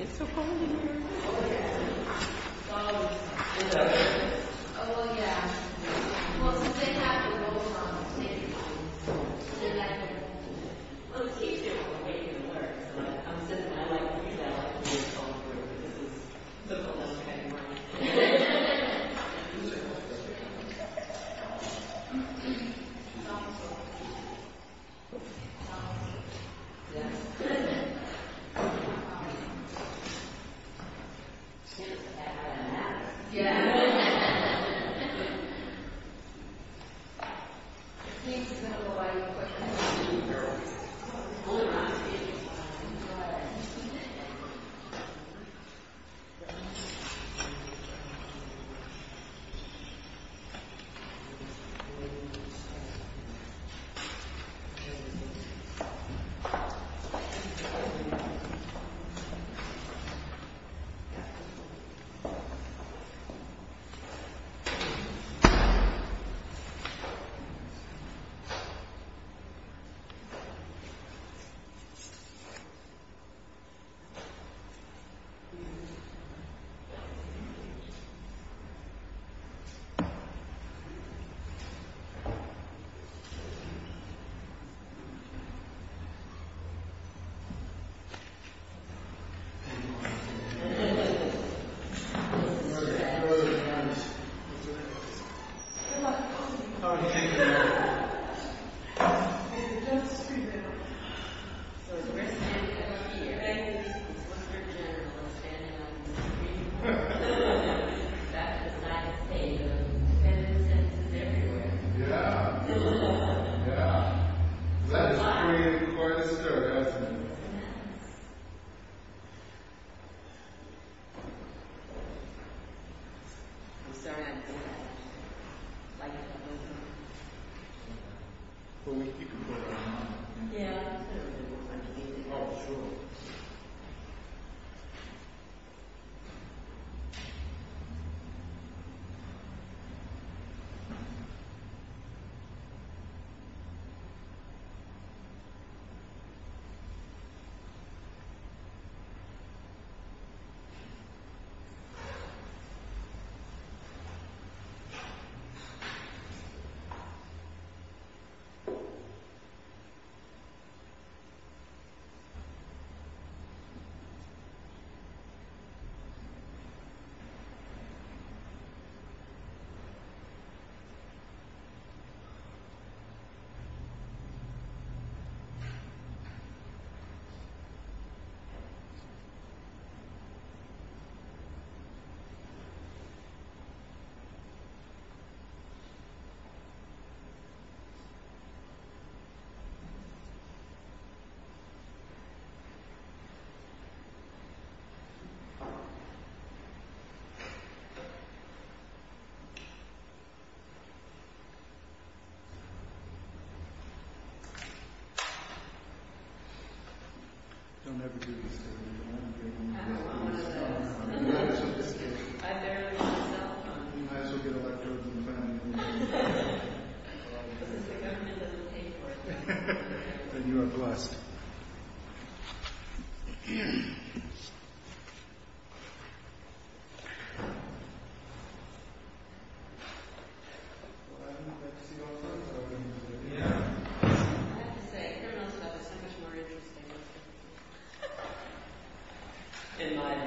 It's so cold in here. Oh yeah. Well since they have the rolls on, maybe you can sit back and... Let's teach them what we can learn. I'm sitting down like this, I like to sit comfortably, because it's the coolest thing ever. It's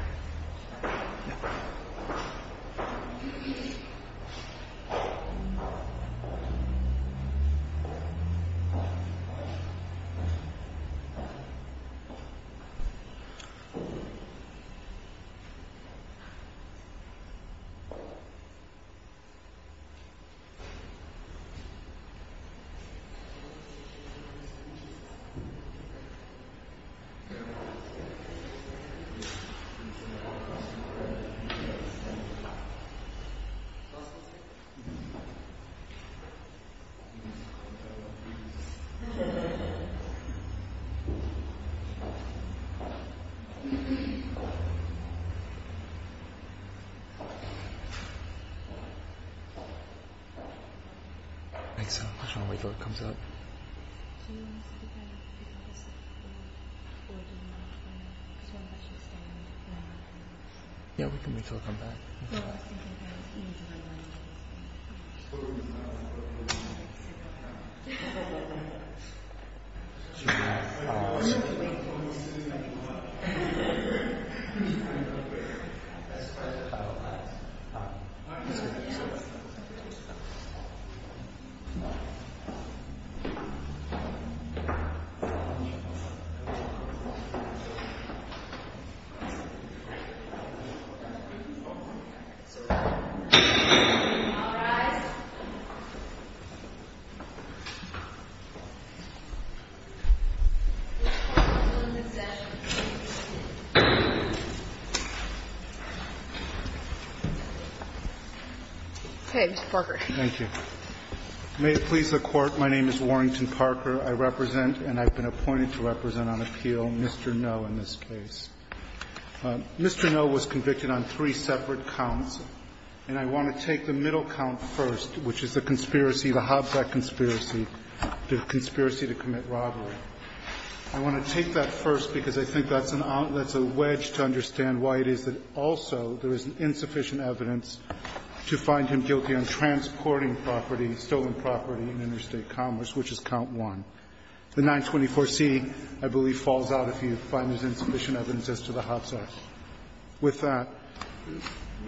coolest thing ever. It's not as cold as it used to be. It's not as cold as it used to be. Yes. It's not as cold as it used to be. It's good that I have a hat. Yeah. The thing is that I'm going to put my head in here, so I'm not going to get any sun. Right. It's good that I have a hat. I'm good at it. I'm good at it. Yeah. Yeah. Yeah. Yeah. Yeah. Yeah. Yeah. Yeah. Yeah. Yeah. Yeah. Yeah. Yeah. Yeah. Well I've never met Steve업er before? I have to say they're not the stuff that's so much more interesting than these people. They might have seen mine on a cabinet door, you know, and they offered payment in exchange. Is the judge going to have to tell him? TAR and? TAR. Well. We've appointed a judge on it. I'm the president of the company, so we have a female judge for this month. Do you know what age you were put through? 4.1. Could be wrong. 99.2. They asked for us, and I think they borrowed. I'm sorry? They asked for us, and we were borrowed. Excuse me. Yeah. Can I open this? Can I open this? Yeah. Yeah. If I remain silent, you won't recognize me. Okay. There you are. Thank you. Thank you. I just want to wait until it comes up. Yeah, we can wait until it comes back. We're going to wait. All rise. Okay, Mr. Parker. Thank you. May it please the Court, my name is Warrington Parker. I represent and I've been appointed to represent on appeal Mr. Noe in this case. Mr. Noe was convicted on three separate counts, and I want to take the middle count first, which is the conspiracy, the Hobbs Act conspiracy, the conspiracy to commit robbery. I want to take that first because I think that's an outlet, that's a wedge to understand why it is that also there is insufficient evidence to find him guilty on transporting property, stolen property in interstate commerce, which is count one. The 924C, I believe, falls out if you find there's insufficient evidence as to the Hobbs Act. With that,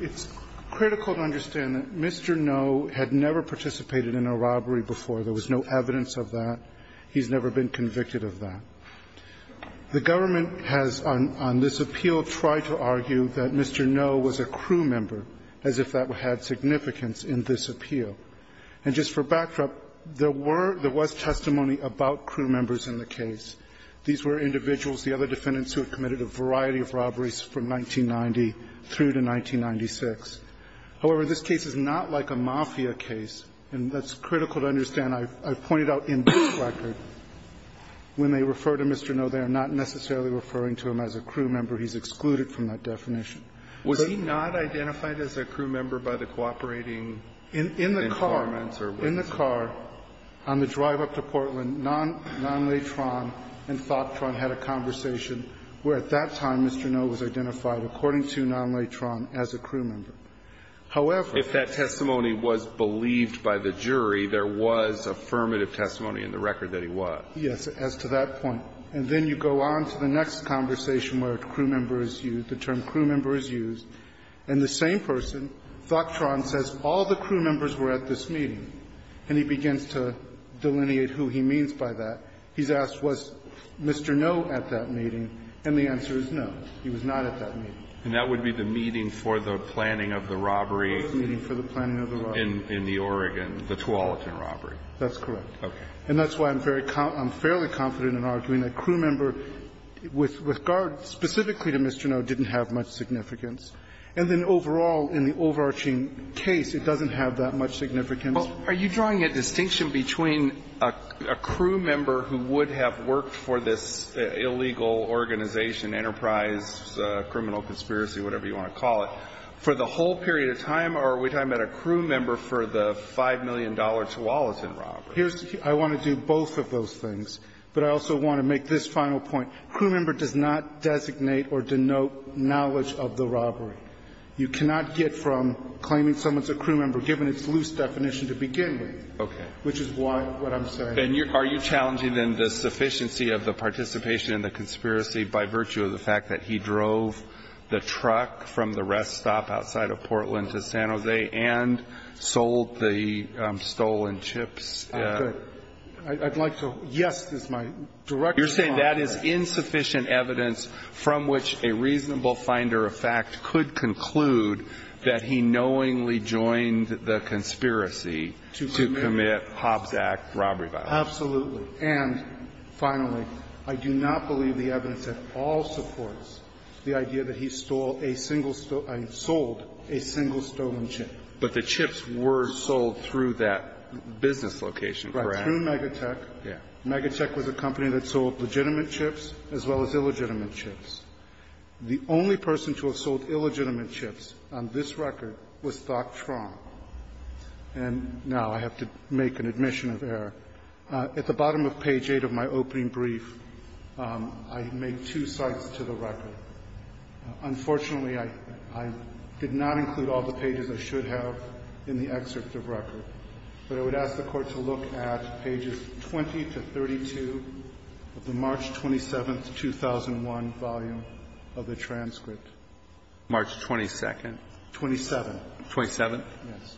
it's critical to understand that Mr. Noe had never participated in a robbery before. There was no evidence of that. He's never been convicted of that. The government has, on this appeal, tried to argue that Mr. Noe was a crew member, as if that had significance in this appeal. And just for backdrop, there were – there was testimony about crew members in the case. These were individuals, the other defendants who had committed a variety of robberies from 1990 through to 1996. However, this case is not like a mafia case, and that's critical to understand. I've pointed out in this record, when they refer to Mr. Noe, they are not necessarily referring to him as a crew member. He's excluded from that definition. But he's not identified as a crew member by the cooperating informants or witnesses? No. was identified as a crew member. However, on the drive up to Portland, Nonle Tron and Thok Tron had a conversation where at that time Mr. Noe was identified, according to Nonle Tron, as a crew member. However – If that testimony was believed by the jury, there was affirmative testimony in the record that he was. Yes. As to that point. And then you go on to the next conversation where crew member is used, the term crew member is used. And the same person, Thok Tron, says all the crew members were at this meeting. And he begins to delineate who he means by that. He's asked, was Mr. Noe at that meeting? And the answer is no, he was not at that meeting. And that would be the meeting for the planning of the robbery? The meeting for the planning of the robbery. In the Oregon, the Tualatin robbery. That's correct. And that's why I'm fairly confident in arguing that crew member with regard specifically to Mr. Noe didn't have much significance. And then overall, in the overarching case, it doesn't have that much significance. Well, are you drawing a distinction between a crew member who would have worked for this illegal organization, enterprise, criminal conspiracy, whatever you want to call it, for the whole period of time, or are we talking about a crew member for the $5 million Tualatin robbery? Here's the key. I want to do both of those things. But I also want to make this final point. Crew member does not designate or denote knowledge of the robbery. You cannot get from claiming someone's a crew member, given its loose definition to begin with. Okay. Which is what I'm saying. And are you challenging, then, the sufficiency of the participation in the conspiracy by virtue of the fact that he drove the truck from the rest stop outside of Portland to San Jose and sold the stolen chips? I'd like to yes, is my direction. You're saying that is insufficient evidence from which a reasonable finder of fact could conclude that he knowingly joined the conspiracy to commit Hobbs Act robbery violence. Absolutely. And finally, I do not believe the evidence at all supports the idea that he stole a single I sold a single stolen chip. But the chips were sold through that business location, correct? Right. Through Megatech. Yeah. Megatech was a company that sold legitimate chips as well as illegitimate chips. The only person to have sold illegitimate chips on this record was Doc Tron. And now I have to make an admission of error. At the bottom of page 8 of my opening brief, I make two cites to the record. Unfortunately, I did not include all the pages I should have in the excerpt of record. But I would ask the Court to look at pages 20 to 32 of the March 27, 2001, volume of the transcript. March 22? 27. 27? Yes.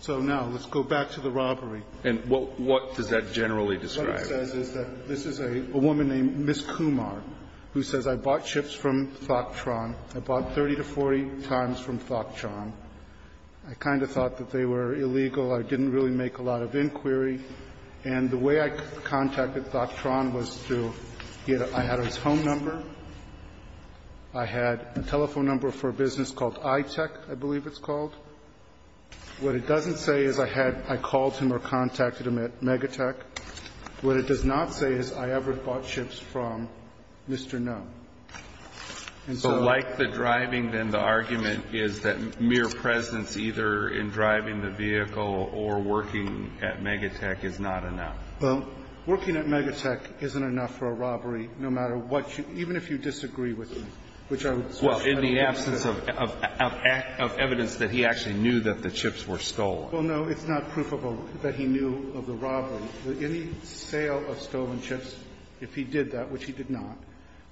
So now let's go back to the robbery. And what does that generally describe? What it generally says is that this is a woman named Ms. Kumar who says, I bought chips from Doc Tron. I bought 30 to 40 times from Doc Tron. I kind of thought that they were illegal. I didn't really make a lot of inquiry. And the way I contacted Doc Tron was through his home number. I had a telephone number for a business called iTech, I believe it's called. What it doesn't say is I called him or contacted him at Megatech. What it does not say is I ever bought chips from Mr. Nunn. And so like the driving, then the argument is that mere presence either in driving the vehicle or working at Megatech is not enough. Well, working at Megatech isn't enough for a robbery, no matter what you do, even if you disagree with me, which I would suggest. Well, in the absence of evidence that he actually knew that the chips were stolen. Well, no, it's not proof that he knew of the robbery. Any sale of stolen chips, if he did that, which he did not.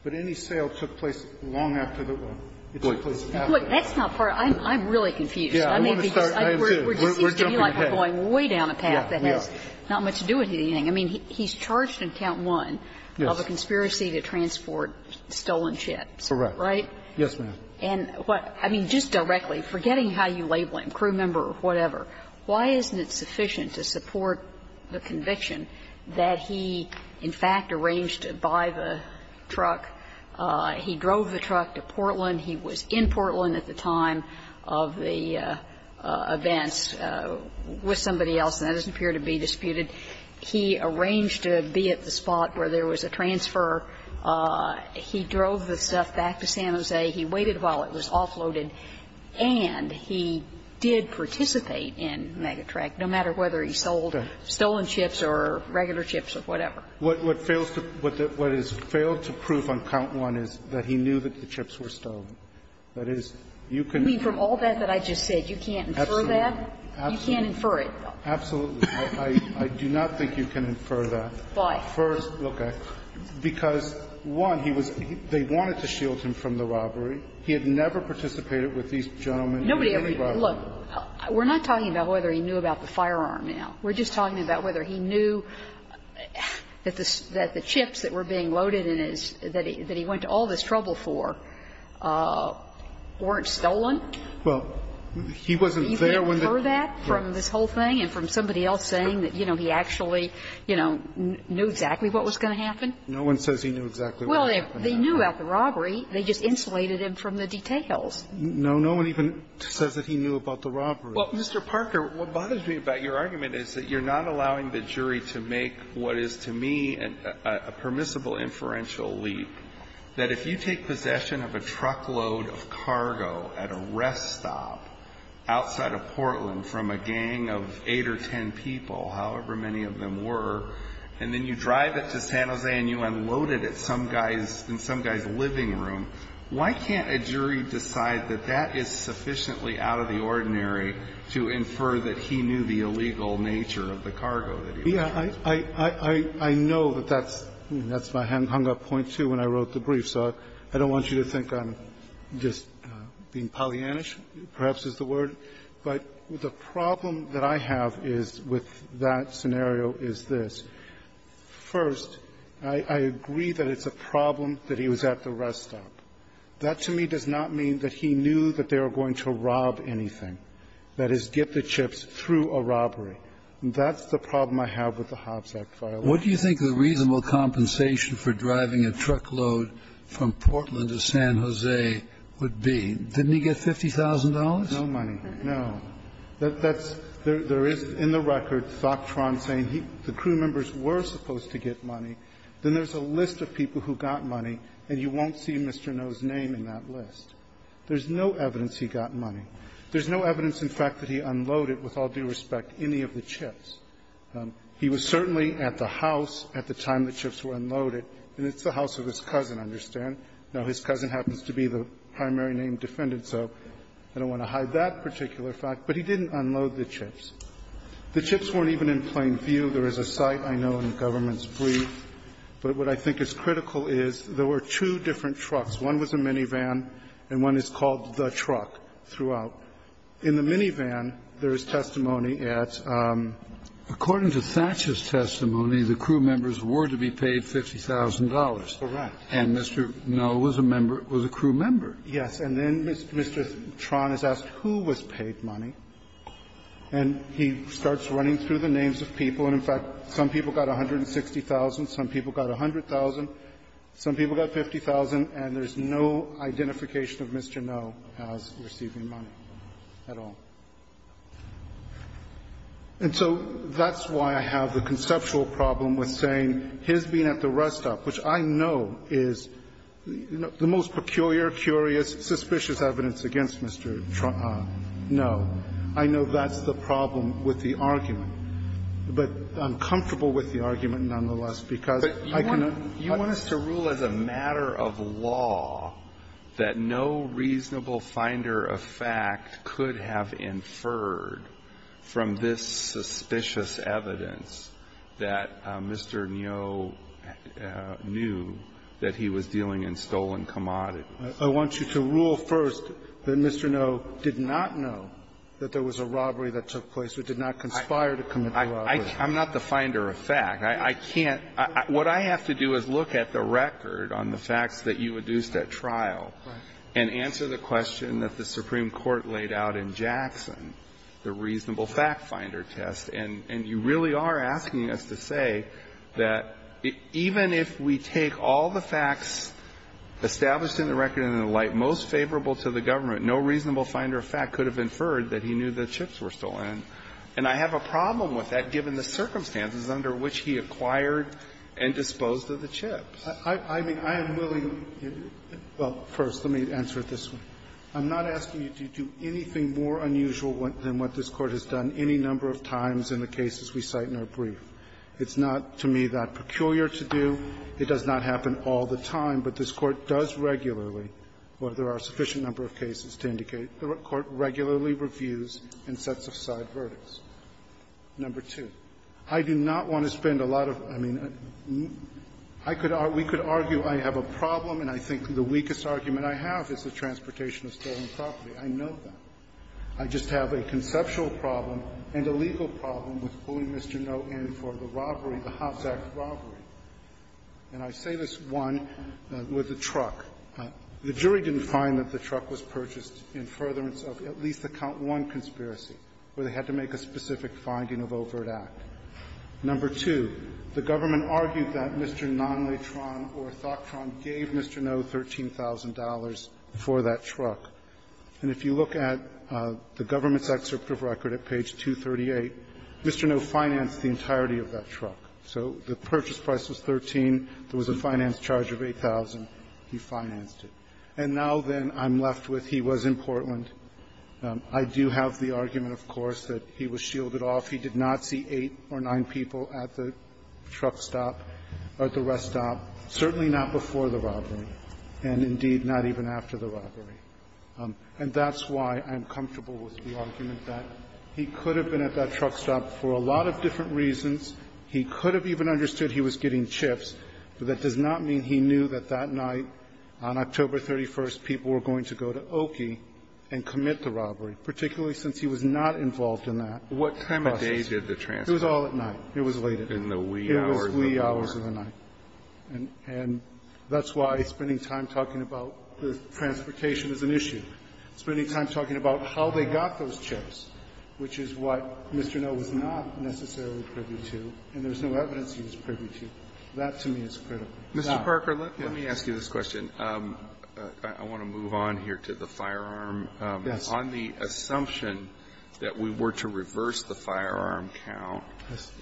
But any sale took place long after the robbery. It took place after the robbery. Look, that's not part of it. I'm really confused. I mean, because we're just going way down a path that has not much to do with anything. I mean, he's charged in count one of a conspiracy to transport stolen chips, right? Yes, ma'am. And what – I mean, just directly, forgetting how you label him, crew member or whatever, why isn't it sufficient to support the conviction that he in fact arranged to buy the truck, he drove the truck to Portland, he was in Portland at the time of the events with somebody else, and that doesn't appear to be disputed. He arranged to be at the spot where there was a transfer. He drove the stuff back to San Jose. He waited while it was offloaded, and he did participate in Megatrack, no matter whether he sold stolen chips or regular chips or whatever. What fails to – what has failed to prove on count one is that he knew that the chips were stolen. That is, you can – You mean from all that that I just said, you can't infer that? Absolutely. You can't infer it? Absolutely. I do not think you can infer that. Why? First, because, one, he was – they wanted to shield him from the robbery. He had never participated with these gentlemen in any robbery. Nobody ever – look. We're not talking about whether he knew about the firearm now. We're just talking about whether he knew that the chips that were being loaded in his – that he went to all this trouble for weren't stolen. Well, he wasn't there when the – You can infer that from this whole thing and from somebody else saying that, you know, he actually, you know, knew exactly what was going to happen. No one says he knew exactly what was going to happen. Well, they knew about the robbery. They just insulated him from the details. No. No one even says that he knew about the robbery. Well, Mr. Parker, what bothers me about your argument is that you're not allowing the jury to make what is, to me, a permissible inferential leap, that if you take people, however many of them were, and then you drive it to San Jose and you unload it at some guy's – in some guy's living room, why can't a jury decide that that is sufficiently out of the ordinary to infer that he knew the illegal nature of the cargo that he was carrying? Yeah. I know that that's – that's my hung-up point, too, when I wrote the brief. So I don't want you to think I'm just being Pollyannish, perhaps, is the word. But the problem that I have is, with that scenario, is this. First, I agree that it's a problem that he was at the rest stop. That, to me, does not mean that he knew that they were going to rob anything, that is, get the chips through a robbery. That's the problem I have with the Hobbs Act file. What do you think the reasonable compensation for driving a truckload from Portland to San Jose would be? Didn't he get $50,000? No money, no. That's – there is, in the record, Thoptron saying the crew members were supposed to get money. Then there's a list of people who got money, and you won't see Mr. No's name in that list. There's no evidence he got money. There's no evidence, in fact, that he unloaded, with all due respect, any of the chips. He was certainly at the house at the time the chips were unloaded, and it's the house of his cousin, understand? Now, his cousin happens to be the primary name defendant, so I don't want to hide that particular fact. But he didn't unload the chips. The chips weren't even in plain view. There is a site I know, and the government's brief. But what I think is critical is there were two different trucks. One was a minivan, and one is called the truck throughout. In the minivan, there is testimony at the – Kennedy, according to Thatcher's testimony, the crew members were to be paid $50,000. Correct. And Mr. No was a member – was a crew member. Yes. And then Mr. Tron is asked who was paid money, and he starts running through the names of people, and in fact, some people got 160,000, some people got 100,000, some people got 50,000, and there's no identification of Mr. No as receiving money. At all. And so that's why I have the conceptual problem with saying his being at the rest stop, which I know is the most peculiar, curious, suspicious evidence against Mr. Tron. No. I know that's the problem with the argument. But I'm comfortable with the argument, nonetheless, because I can – I can feel as a matter of law that no reasonable finder of fact could have inferred from this suspicious evidence that Mr. No knew that he was dealing in stolen commodities. I want you to rule first that Mr. No did not know that there was a robbery that took place, or did not conspire to commit the robbery. I'm not the finder of fact. I can't – what I have to do is look at the record on the facts that you adduced at trial and answer the question that the Supreme Court laid out in Jackson, the reasonable fact finder test. And you really are asking us to say that even if we take all the facts established in the record and the like most favorable to the government, no reasonable finder of fact could have inferred that he knew the chips were stolen. And I have a problem with that given the circumstances under which he acquired and disposed of the chips. I mean, I am willing – well, first, let me answer this one. I'm not asking you to do anything more unusual than what this Court has done any number of times in the cases we cite in our brief. It's not, to me, that peculiar to do. It does not happen all the time, but this Court does regularly, where there are a sufficient number of cases to indicate, the Court regularly reviews and sets aside verdicts. Number two, I do not want to spend a lot of – I mean, I could – we could argue I have a problem, and I think the weakest argument I have is the transportation of stolen property. I know that. I just have a conceptual problem and a legal problem with pulling Mr. No in for the robbery, the Hobbs Act robbery. And I say this, one, with the truck. The jury didn't find that the truck was purchased in furtherance of at least the count one conspiracy, where they had to make a specific finding of overt act. Number two, the government argued that Mr. Nonlay-Tron or Thok-Tron gave Mr. No $13,000 for that truck. And if you look at the government's excerpt of record at page 238, Mr. No financed the entirety of that truck. So the purchase price was 13. There was a finance charge of 8,000. He financed it. And now, then, I'm left with he was in Portland. I do have the argument, of course, that he was shielded off. He did not see eight or nine people at the truck stop or at the rest stop, certainly not before the robbery, and indeed not even after the robbery. And that's why I'm comfortable with the argument that he could have been at that truck stop for a lot of different reasons. He could have even understood he was getting chips, but that does not mean he knew that that night, on October 31st, people were going to go to Oki and commit the robbery, particularly since he was not involved in that process. It was all at night. It was late at night. It was wee hours of the night. And that's why spending time talking about the transportation is an issue. Spending time talking about how they got those chips, which is what Mr. No was not necessarily privy to, and there's no evidence he was privy to. That, to me, is critical. Mr. Parker, let me ask you this question. I want to move on here to the firearm. On the assumption that we were to reverse the firearm count,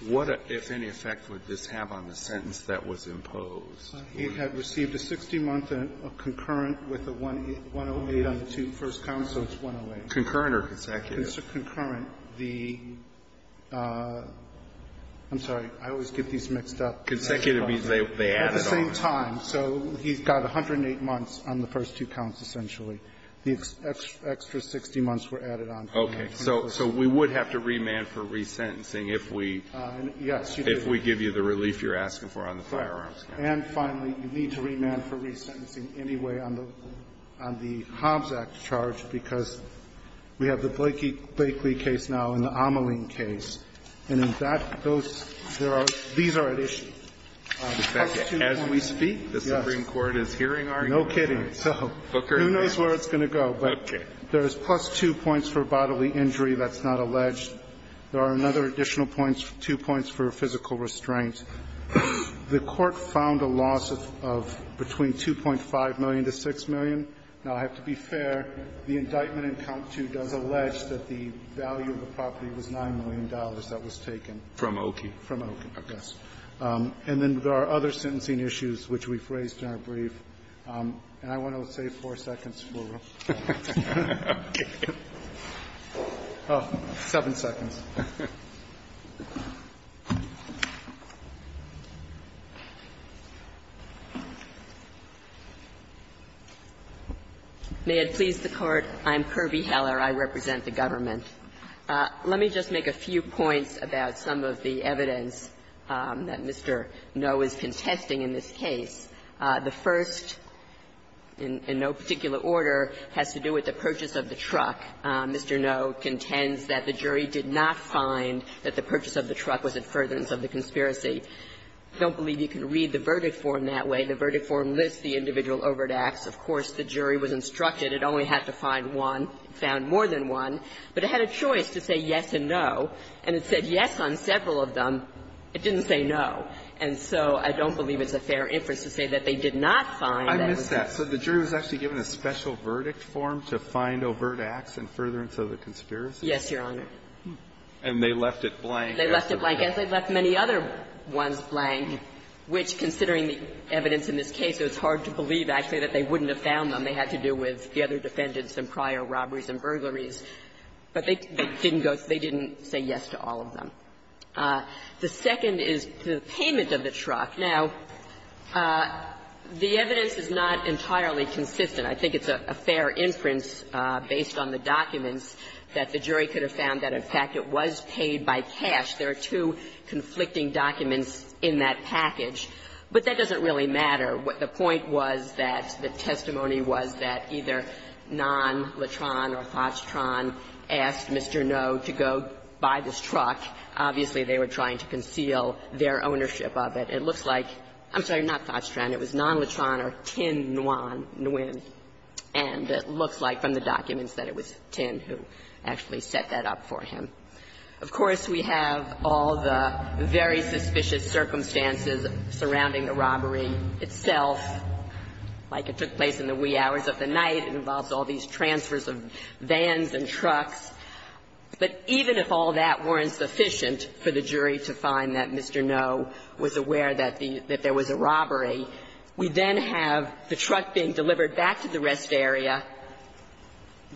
what, if any effect, would this have on the sentence that was imposed? It had received a 60-month concurrent with a 108 on the two first counts, so it's 108. Concurrent or consecutive? It's a concurrent. The — I'm sorry. I always get these mixed up. Consecutive means they added on. At the same time. So he's got 108 months on the first two counts, essentially. The extra 60 months were added on. Okay. So we would have to remand for resentencing if we — Yes. If we give you the relief you're asking for on the firearms count. And finally, you need to remand for resentencing anyway on the Hobbs Act charge, because we have the Blakely case now and the Ameling case. And in that, those — there are — these are at issue. As we speak, the Supreme Court is hearing our argument. No kidding. So who knows where it's going to go, but there's plus two points for bodily injury. That's not alleged. There are another additional points, two points for physical restraint. The Court found a loss of between $2.5 million to $6 million. Now, I have to be fair, the indictment in Count II does allege that the value of the was taken. From Oki. From Oki, yes. And then there are other sentencing issues which we've raised in our brief. And I want to save four seconds for them. Oh, seven seconds. May it please the Court, I'm Kirby Heller. I represent the government. Let me just make a few points about some of the evidence that Mr. Noh is contesting in this case. The first, in no particular order, has to do with the purchase of the truck. Mr. Noh contends that the jury did not find that the purchase of the truck was a furtherance of the conspiracy. I don't believe you can read the verdict form that way. The verdict form lists the individual overt acts. Of course, the jury was instructed it only had to find one, found more than one. But it had a choice to say yes and no, and it said yes on several of them. It didn't say no. And so I don't believe it's a fair inference to say that they did not find that. I missed that. So the jury was actually given a special verdict form to find overt acts and furtherance of the conspiracy? Yes, Your Honor. And they left it blank. They left it blank, as they left many other ones blank, which, considering the evidence in this case, it was hard to believe, actually, that they wouldn't have found them. They had to do with the other defendants and prior robberies and burglaries. But they didn't go to they didn't say yes to all of them. The second is the payment of the truck. Now, the evidence is not entirely consistent. I think it's a fair inference, based on the documents, that the jury could have found that, in fact, it was paid by cash. There are two conflicting documents in that package. But that doesn't really matter. The point was that the testimony was that either Non-Latron or Thotstron asked Mr. Ngo to go buy this truck. Obviously, they were trying to conceal their ownership of it. It looks like – I'm sorry, not Thotstron. It was Non-Latron or Tin Nguyen. And it looks like from the documents that it was Tin who actually set that up for him. Of course, we have all the very suspicious circumstances surrounding the robbery. Itself, like it took place in the wee hours of the night, it involves all these transfers of vans and trucks. But even if all that weren't sufficient for the jury to find that Mr. Ngo was aware that the – that there was a robbery, we then have the truck being delivered back to the rest area.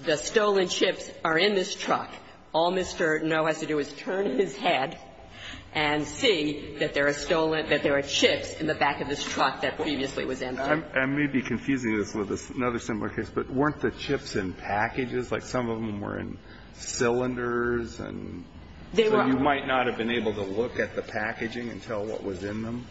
The stolen chips are in this truck. All Mr. Ngo has to do is turn his head and see that there are stolen – that there are chips in the back of this truck that previously was emptied. I may be confusing this with another similar case, but weren't the chips in packages? Like some of them were in cylinders and you might not have been able to look at the packaging and tell what was in them?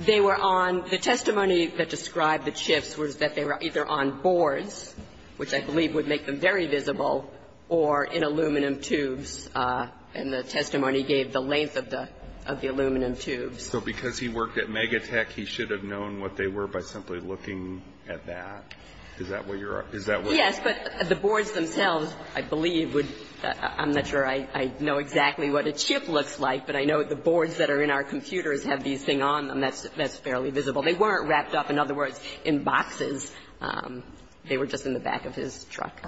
They were on – the testimony that described the chips was that they were either on boards, which I believe would make them very visible, or in aluminum tubes. And the testimony gave the length of the – of the aluminum tubes. So because he worked at Megatech, he should have known what they were by simply looking at that? Is that what you're – is that what you're – Yes, but the boards themselves, I believe, would – I'm not sure I know exactly what a chip looks like, but I know the boards that are in our computers have these things on them. That's – that's fairly visible. They weren't wrapped up, in other words, in boxes. They were just in the back of his truck.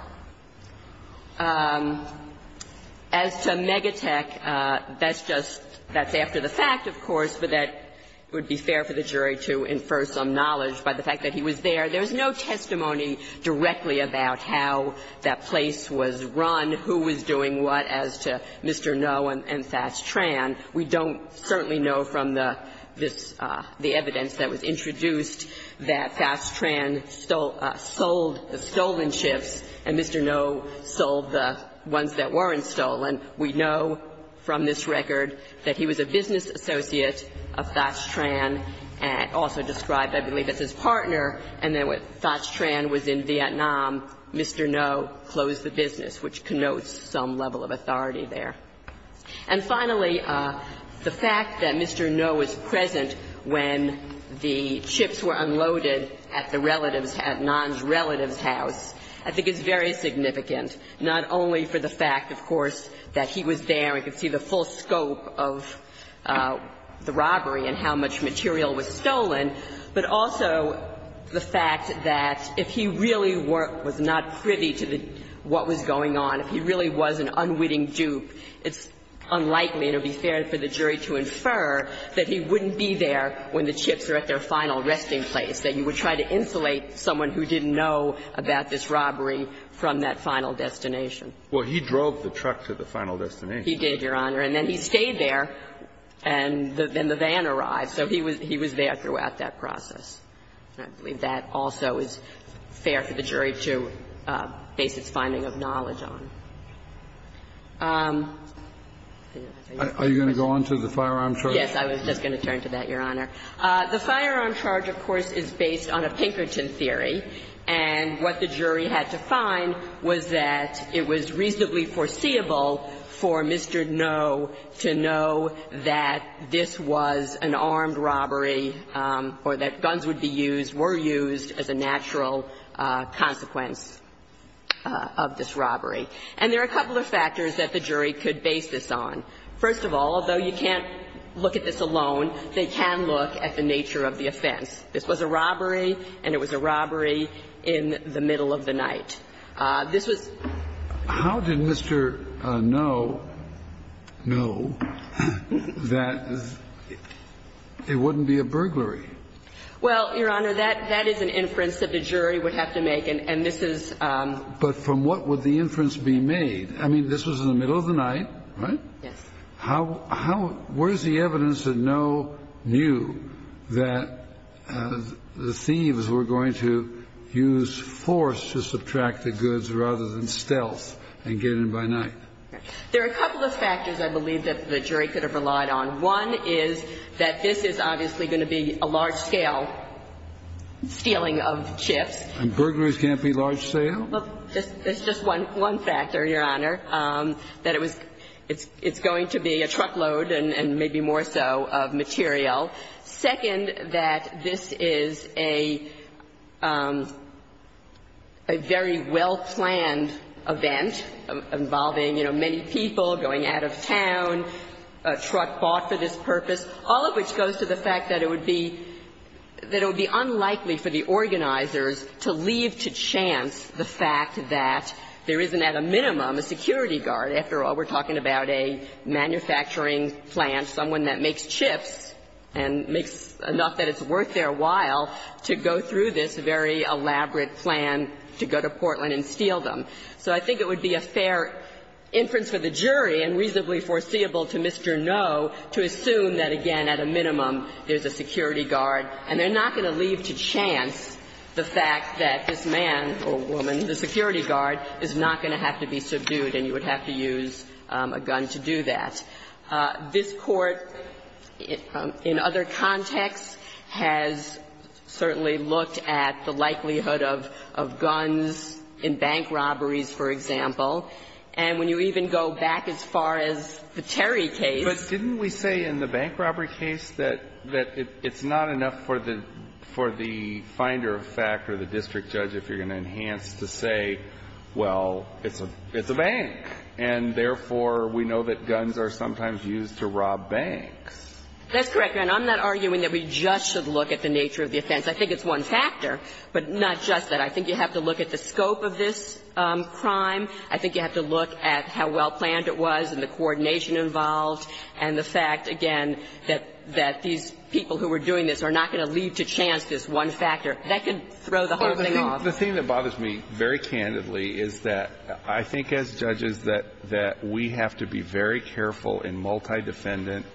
As to Megatech, that's just – that's after the fact, of course, but that would be fair for the jury to infer some knowledge by the fact that he was there. There's no testimony directly about how that place was run, who was doing what as to Mr. Noe and Fas-Tran. We don't certainly know from the – this – the evidence that was introduced that Fas-Tran stole – sold the stolen chips and Mr. Noe sold the ones that weren't stolen. We know from this record that he was a business associate of Fas-Tran and also described, I believe, as his partner, and then when Fas-Tran was in Vietnam, Mr. Noe closed the business, which connotes some level of authority there. And finally, the fact that Mr. Noe was present when the chips were unloaded at the relatives – at Nan's relatives' house, I think is very significant, not only for the fact, of course, that he was there and could see the full scope of the robbery and how much material was stolen, but also the fact that if he really were – was not privy to the – what was going on, if he really was an unwitting dupe, he would be – it's unlikely, and it would be fair for the jury to infer, that he wouldn't be there when the chips were at their final resting place, that you would try to insulate someone who didn't know about this robbery from that final destination. Well, he drove the truck to the final destination. He did, Your Honor. And then he stayed there, and then the van arrived. So he was – he was there throughout that process. I believe that also is fair for the jury to base its finding of knowledge on. Are you going to go on to the firearm charge? Yes. I was just going to turn to that, Your Honor. The firearm charge, of course, is based on a Pinkerton theory. And what the jury had to find was that it was reasonably foreseeable for Mr. Noe to know that this was an armed robbery or that guns would be used, were used as a natural consequence of this robbery. And there are a couple of factors that the jury could base this on. First of all, though you can't look at this alone, they can look at the nature of the offense. This was a robbery, and it was a robbery in the middle of the night. This was – Mr. Noe knew that it wouldn't be a burglary. Well, Your Honor, that is an inference that the jury would have to make. And this is – But from what would the inference be made? I mean, this was in the middle of the night, right? Yes. How – where is the evidence that Noe knew that the thieves were going to use force to subtract the goods rather than stealth and get in by night? There are a couple of factors, I believe, that the jury could have relied on. One is that this is obviously going to be a large-scale stealing of chips. And burglaries can't be large-scale? That's just one factor, Your Honor, that it was – it's going to be a truckload and maybe more so of material. Second, that this is a very well-planned event involving, you know, many people going out of town, a truck bought for this purpose, all of which goes to the fact that it would be – that it would be unlikely for the organizers to leave to chance the fact that there isn't, at a minimum, a security guard. After all, we're talking about a manufacturing plant, someone that makes chips and makes enough that it's worth their while to go through this very elaborate plan to go to Portland and steal them. So I think it would be a fair inference for the jury and reasonably foreseeable to Mr. Noe to assume that, again, at a minimum, there's a security guard. And they're not going to leave to chance the fact that this man or woman, the security guard, is not going to have to be subdued and you would have to use a gun to do that. This Court, in other contexts, has certainly looked at the likelihood of guns in bank robberies, for example. And when you even go back as far as the Terry case – But it's not for the finder of fact or the district judge, if you're going to enhance, to say, well, it's a bank, and therefore, we know that guns are sometimes used to rob banks. That's correct, Your Honor. I'm not arguing that we just should look at the nature of the offense. I think it's one factor, but not just that. I think you have to look at the scope of this crime. I think you have to look at how well planned it was and the coordination of the crime. And I don't think that's going to lead to chance, this one factor. That could throw the whole thing off. The thing that bothers me very candidly is that I think as judges that we have to be very careful in multi-defendant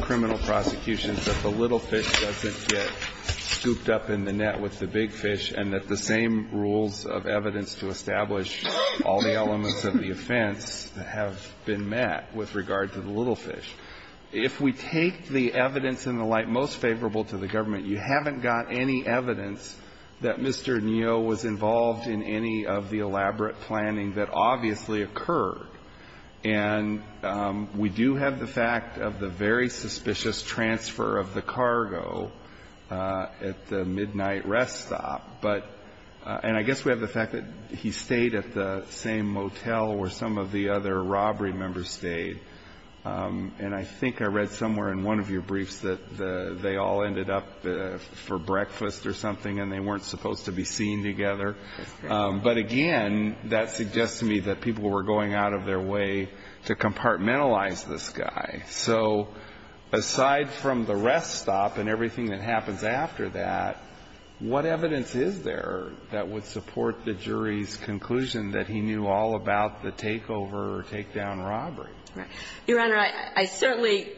criminal prosecutions that the little fish doesn't get scooped up in the net with the big fish and that the same rules of evidence to establish all the elements of the offense have been met with regard to the little fish. If we take the evidence in the light most favorable to the government, you haven't got any evidence that Mr. Neo was involved in any of the elaborate planning that obviously occurred. And we do have the fact of the very suspicious transfer of the cargo at the midnight rest stop, but – and I guess we have the fact that he stayed at the same motel where some of the other robbery members stayed. And I think I read somewhere in one of your briefs that they all ended up for breakfast or something and they weren't supposed to be seen together. But again, that suggests to me that people were going out of their way to compartmentalize this guy. So aside from the rest stop and everything that happens after that, what evidence is there that would support the jury's conclusion that he knew all about the takeover or takedown robbery? Right. Your Honor, I certainly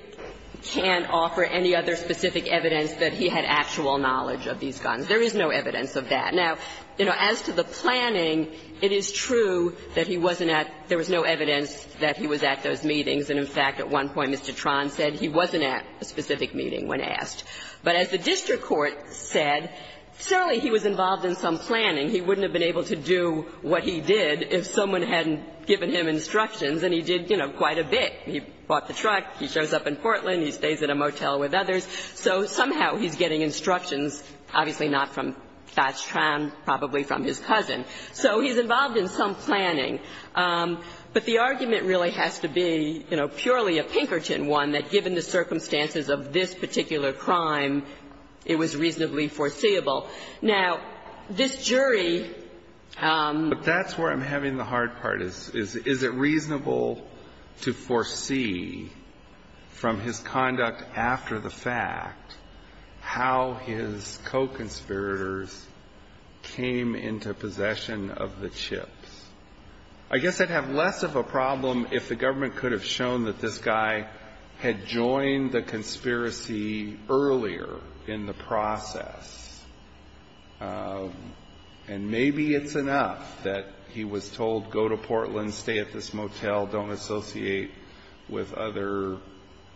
can't offer any other specific evidence that he had actual knowledge of these guns. There is no evidence of that. Now, you know, as to the planning, it is true that he wasn't at – there was no evidence that he was at those meetings. And, in fact, at one point Mr. Tron said he wasn't at a specific meeting when asked. But as the district court said, certainly he was involved in some planning. He wouldn't have been able to do what he did if someone hadn't given him instructions and he did, you know, quite a bit. He bought the truck, he shows up in Portland, he stays in a motel with others. So somehow he's getting instructions, obviously not from Thatch Tron, probably from his cousin. So he's involved in some planning. But the argument really has to be, you know, purely a Pinkerton one, that given the circumstances of this particular crime, it was reasonably foreseeable. Now, this jury – But that's where I'm having the hard part, is, is it reasonable to foresee from his conduct after the fact how his co-conspirators came into possession of the chips? I guess I'd have less of a problem if the government could have shown that this guy had joined the conspiracy earlier in the process. And maybe it's enough that he was told, go to Portland, stay at this motel, don't associate with other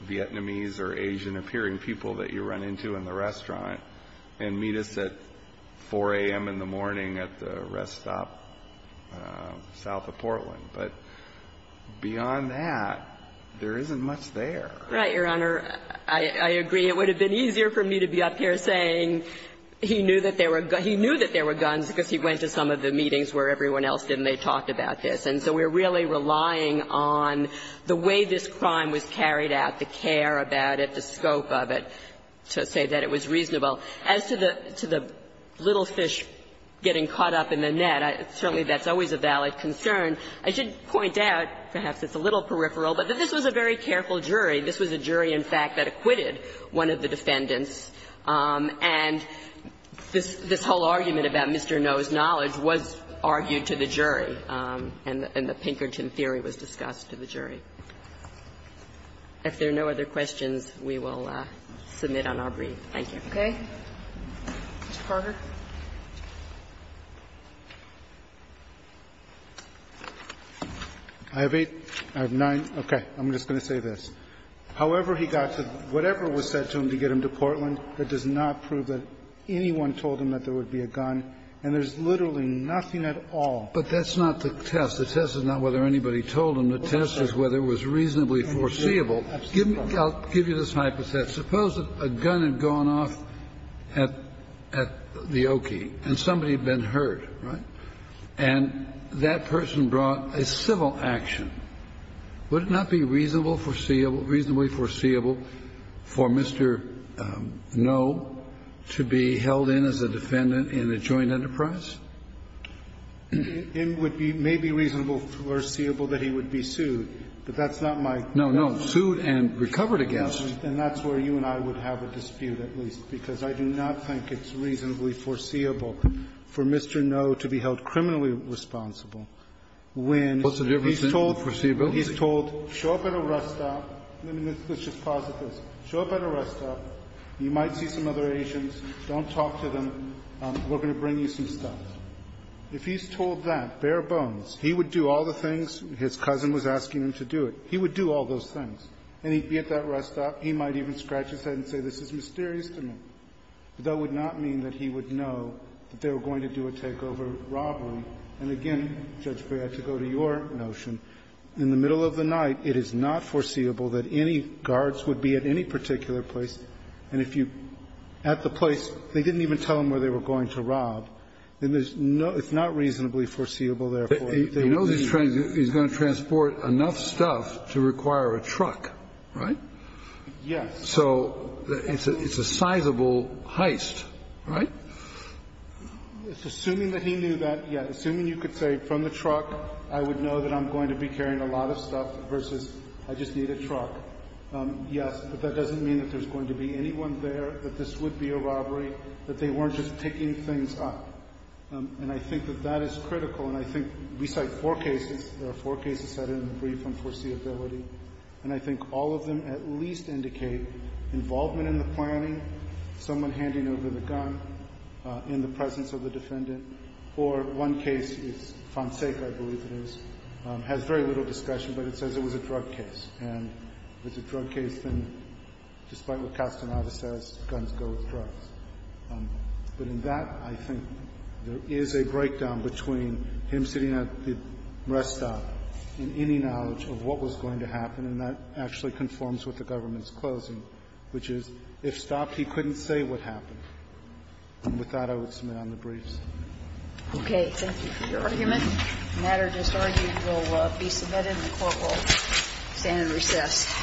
Vietnamese or Asian-appearing people that you run into in the restaurant and meet us at 4 a.m. in the morning at the rest stop south of Portland. But beyond that, there isn't much there. Right, Your Honor. I agree. It would have been easier for me to be up here saying he knew that there were – he knew that there were guns because he went to some of the meetings where everyone else didn't. They talked about this. And so we're really relying on the way this crime was carried out, the care about it, the scope of it, to say that it was reasonable. As to the little fish getting caught up in the net, certainly that's always a valid concern. I should point out, perhaps it's a little peripheral, but that this was a very careful jury. This was a jury, in fact, that acquitted one of the defendants. And this whole argument about Mr. Noe's knowledge was argued to the jury, and the Pinkerton theory was discussed to the jury. If there are no other questions, we will submit on our brief. Thank you. Okay. Mr. Carter. I have eight. I have nine. Okay. I'm just going to say this. Mr. Rupert, the jury's statement is that he didn't have a gun at the time of the shooting, however he got to whatever was said to him to get him to Portland. That does not prove that anyone told him that there would be a gun. And there's literally nothing at all. But that's not the test. The test is not whether anybody told him. The test is whether it was reasonably foreseeable. And the jury has absolutely no idea. I'll give you this hypothesis. Suppose a gun had gone off at the Oki, and somebody had been hurt, right? And that person brought a civil action. Would it not be reasonable, foreseeable, reasonably foreseeable for Mr. Noe to be held in as a defendant in a joint enterprise? It would be maybe reasonable foreseeable that he would be sued, but that's not my No, no. Sued and recovered against. And that's where you and I would have a dispute at least, because I do not think it's reasonably foreseeable for Mr. Noe to be held criminally responsible when he's told, he's told, show up at a rest stop. Let's just pause at this. Show up at a rest stop. You might see some other agents. Don't talk to them. We're going to bring you some stuff. If he's told that bare bones, he would do all the things his cousin was asking him to do it. He would do all those things. And he'd be at that rest stop. He might even scratch his head and say, this is mysterious to me. But that would not mean that he would know that they were going to do a takeover robbery. And again, Judge Breyer, to go to your notion, in the middle of the night, it is not foreseeable that any guards would be at any particular place. And if you're at the place, they didn't even tell him where they were going to rob. It's not reasonably foreseeable, therefore. He knows he's going to transport enough stuff to require a truck, right? Yes. So it's a sizable heist, right? Assuming that he knew that, yeah, assuming you could say from the truck, I would know that I'm going to be carrying a lot of stuff versus I just need a truck. Yes, but that doesn't mean that there's going to be anyone there, that this would be a robbery, that they weren't just picking things up. And I think that that is critical. And I think we cite four cases, there are four cases that are in the brief on foreseeability. And I think all of them at least indicate involvement in the planning, someone handing over the gun in the presence of the defendant. Or one case is Fonseca, I believe it is, has very little discretion, but it says it was a drug case. And if it's a drug case, then despite what Castaneda says, guns go with drugs. But in that, I think there is a breakdown between him sitting at the rest stop and any knowledge of what was going to happen, and that actually conforms with the government's closing, which is if stopped, he couldn't say what happened. And with that, I would submit on the briefs. Okay. Thank you for your argument. The matter just argued will be submitted and the Court will stand and recess.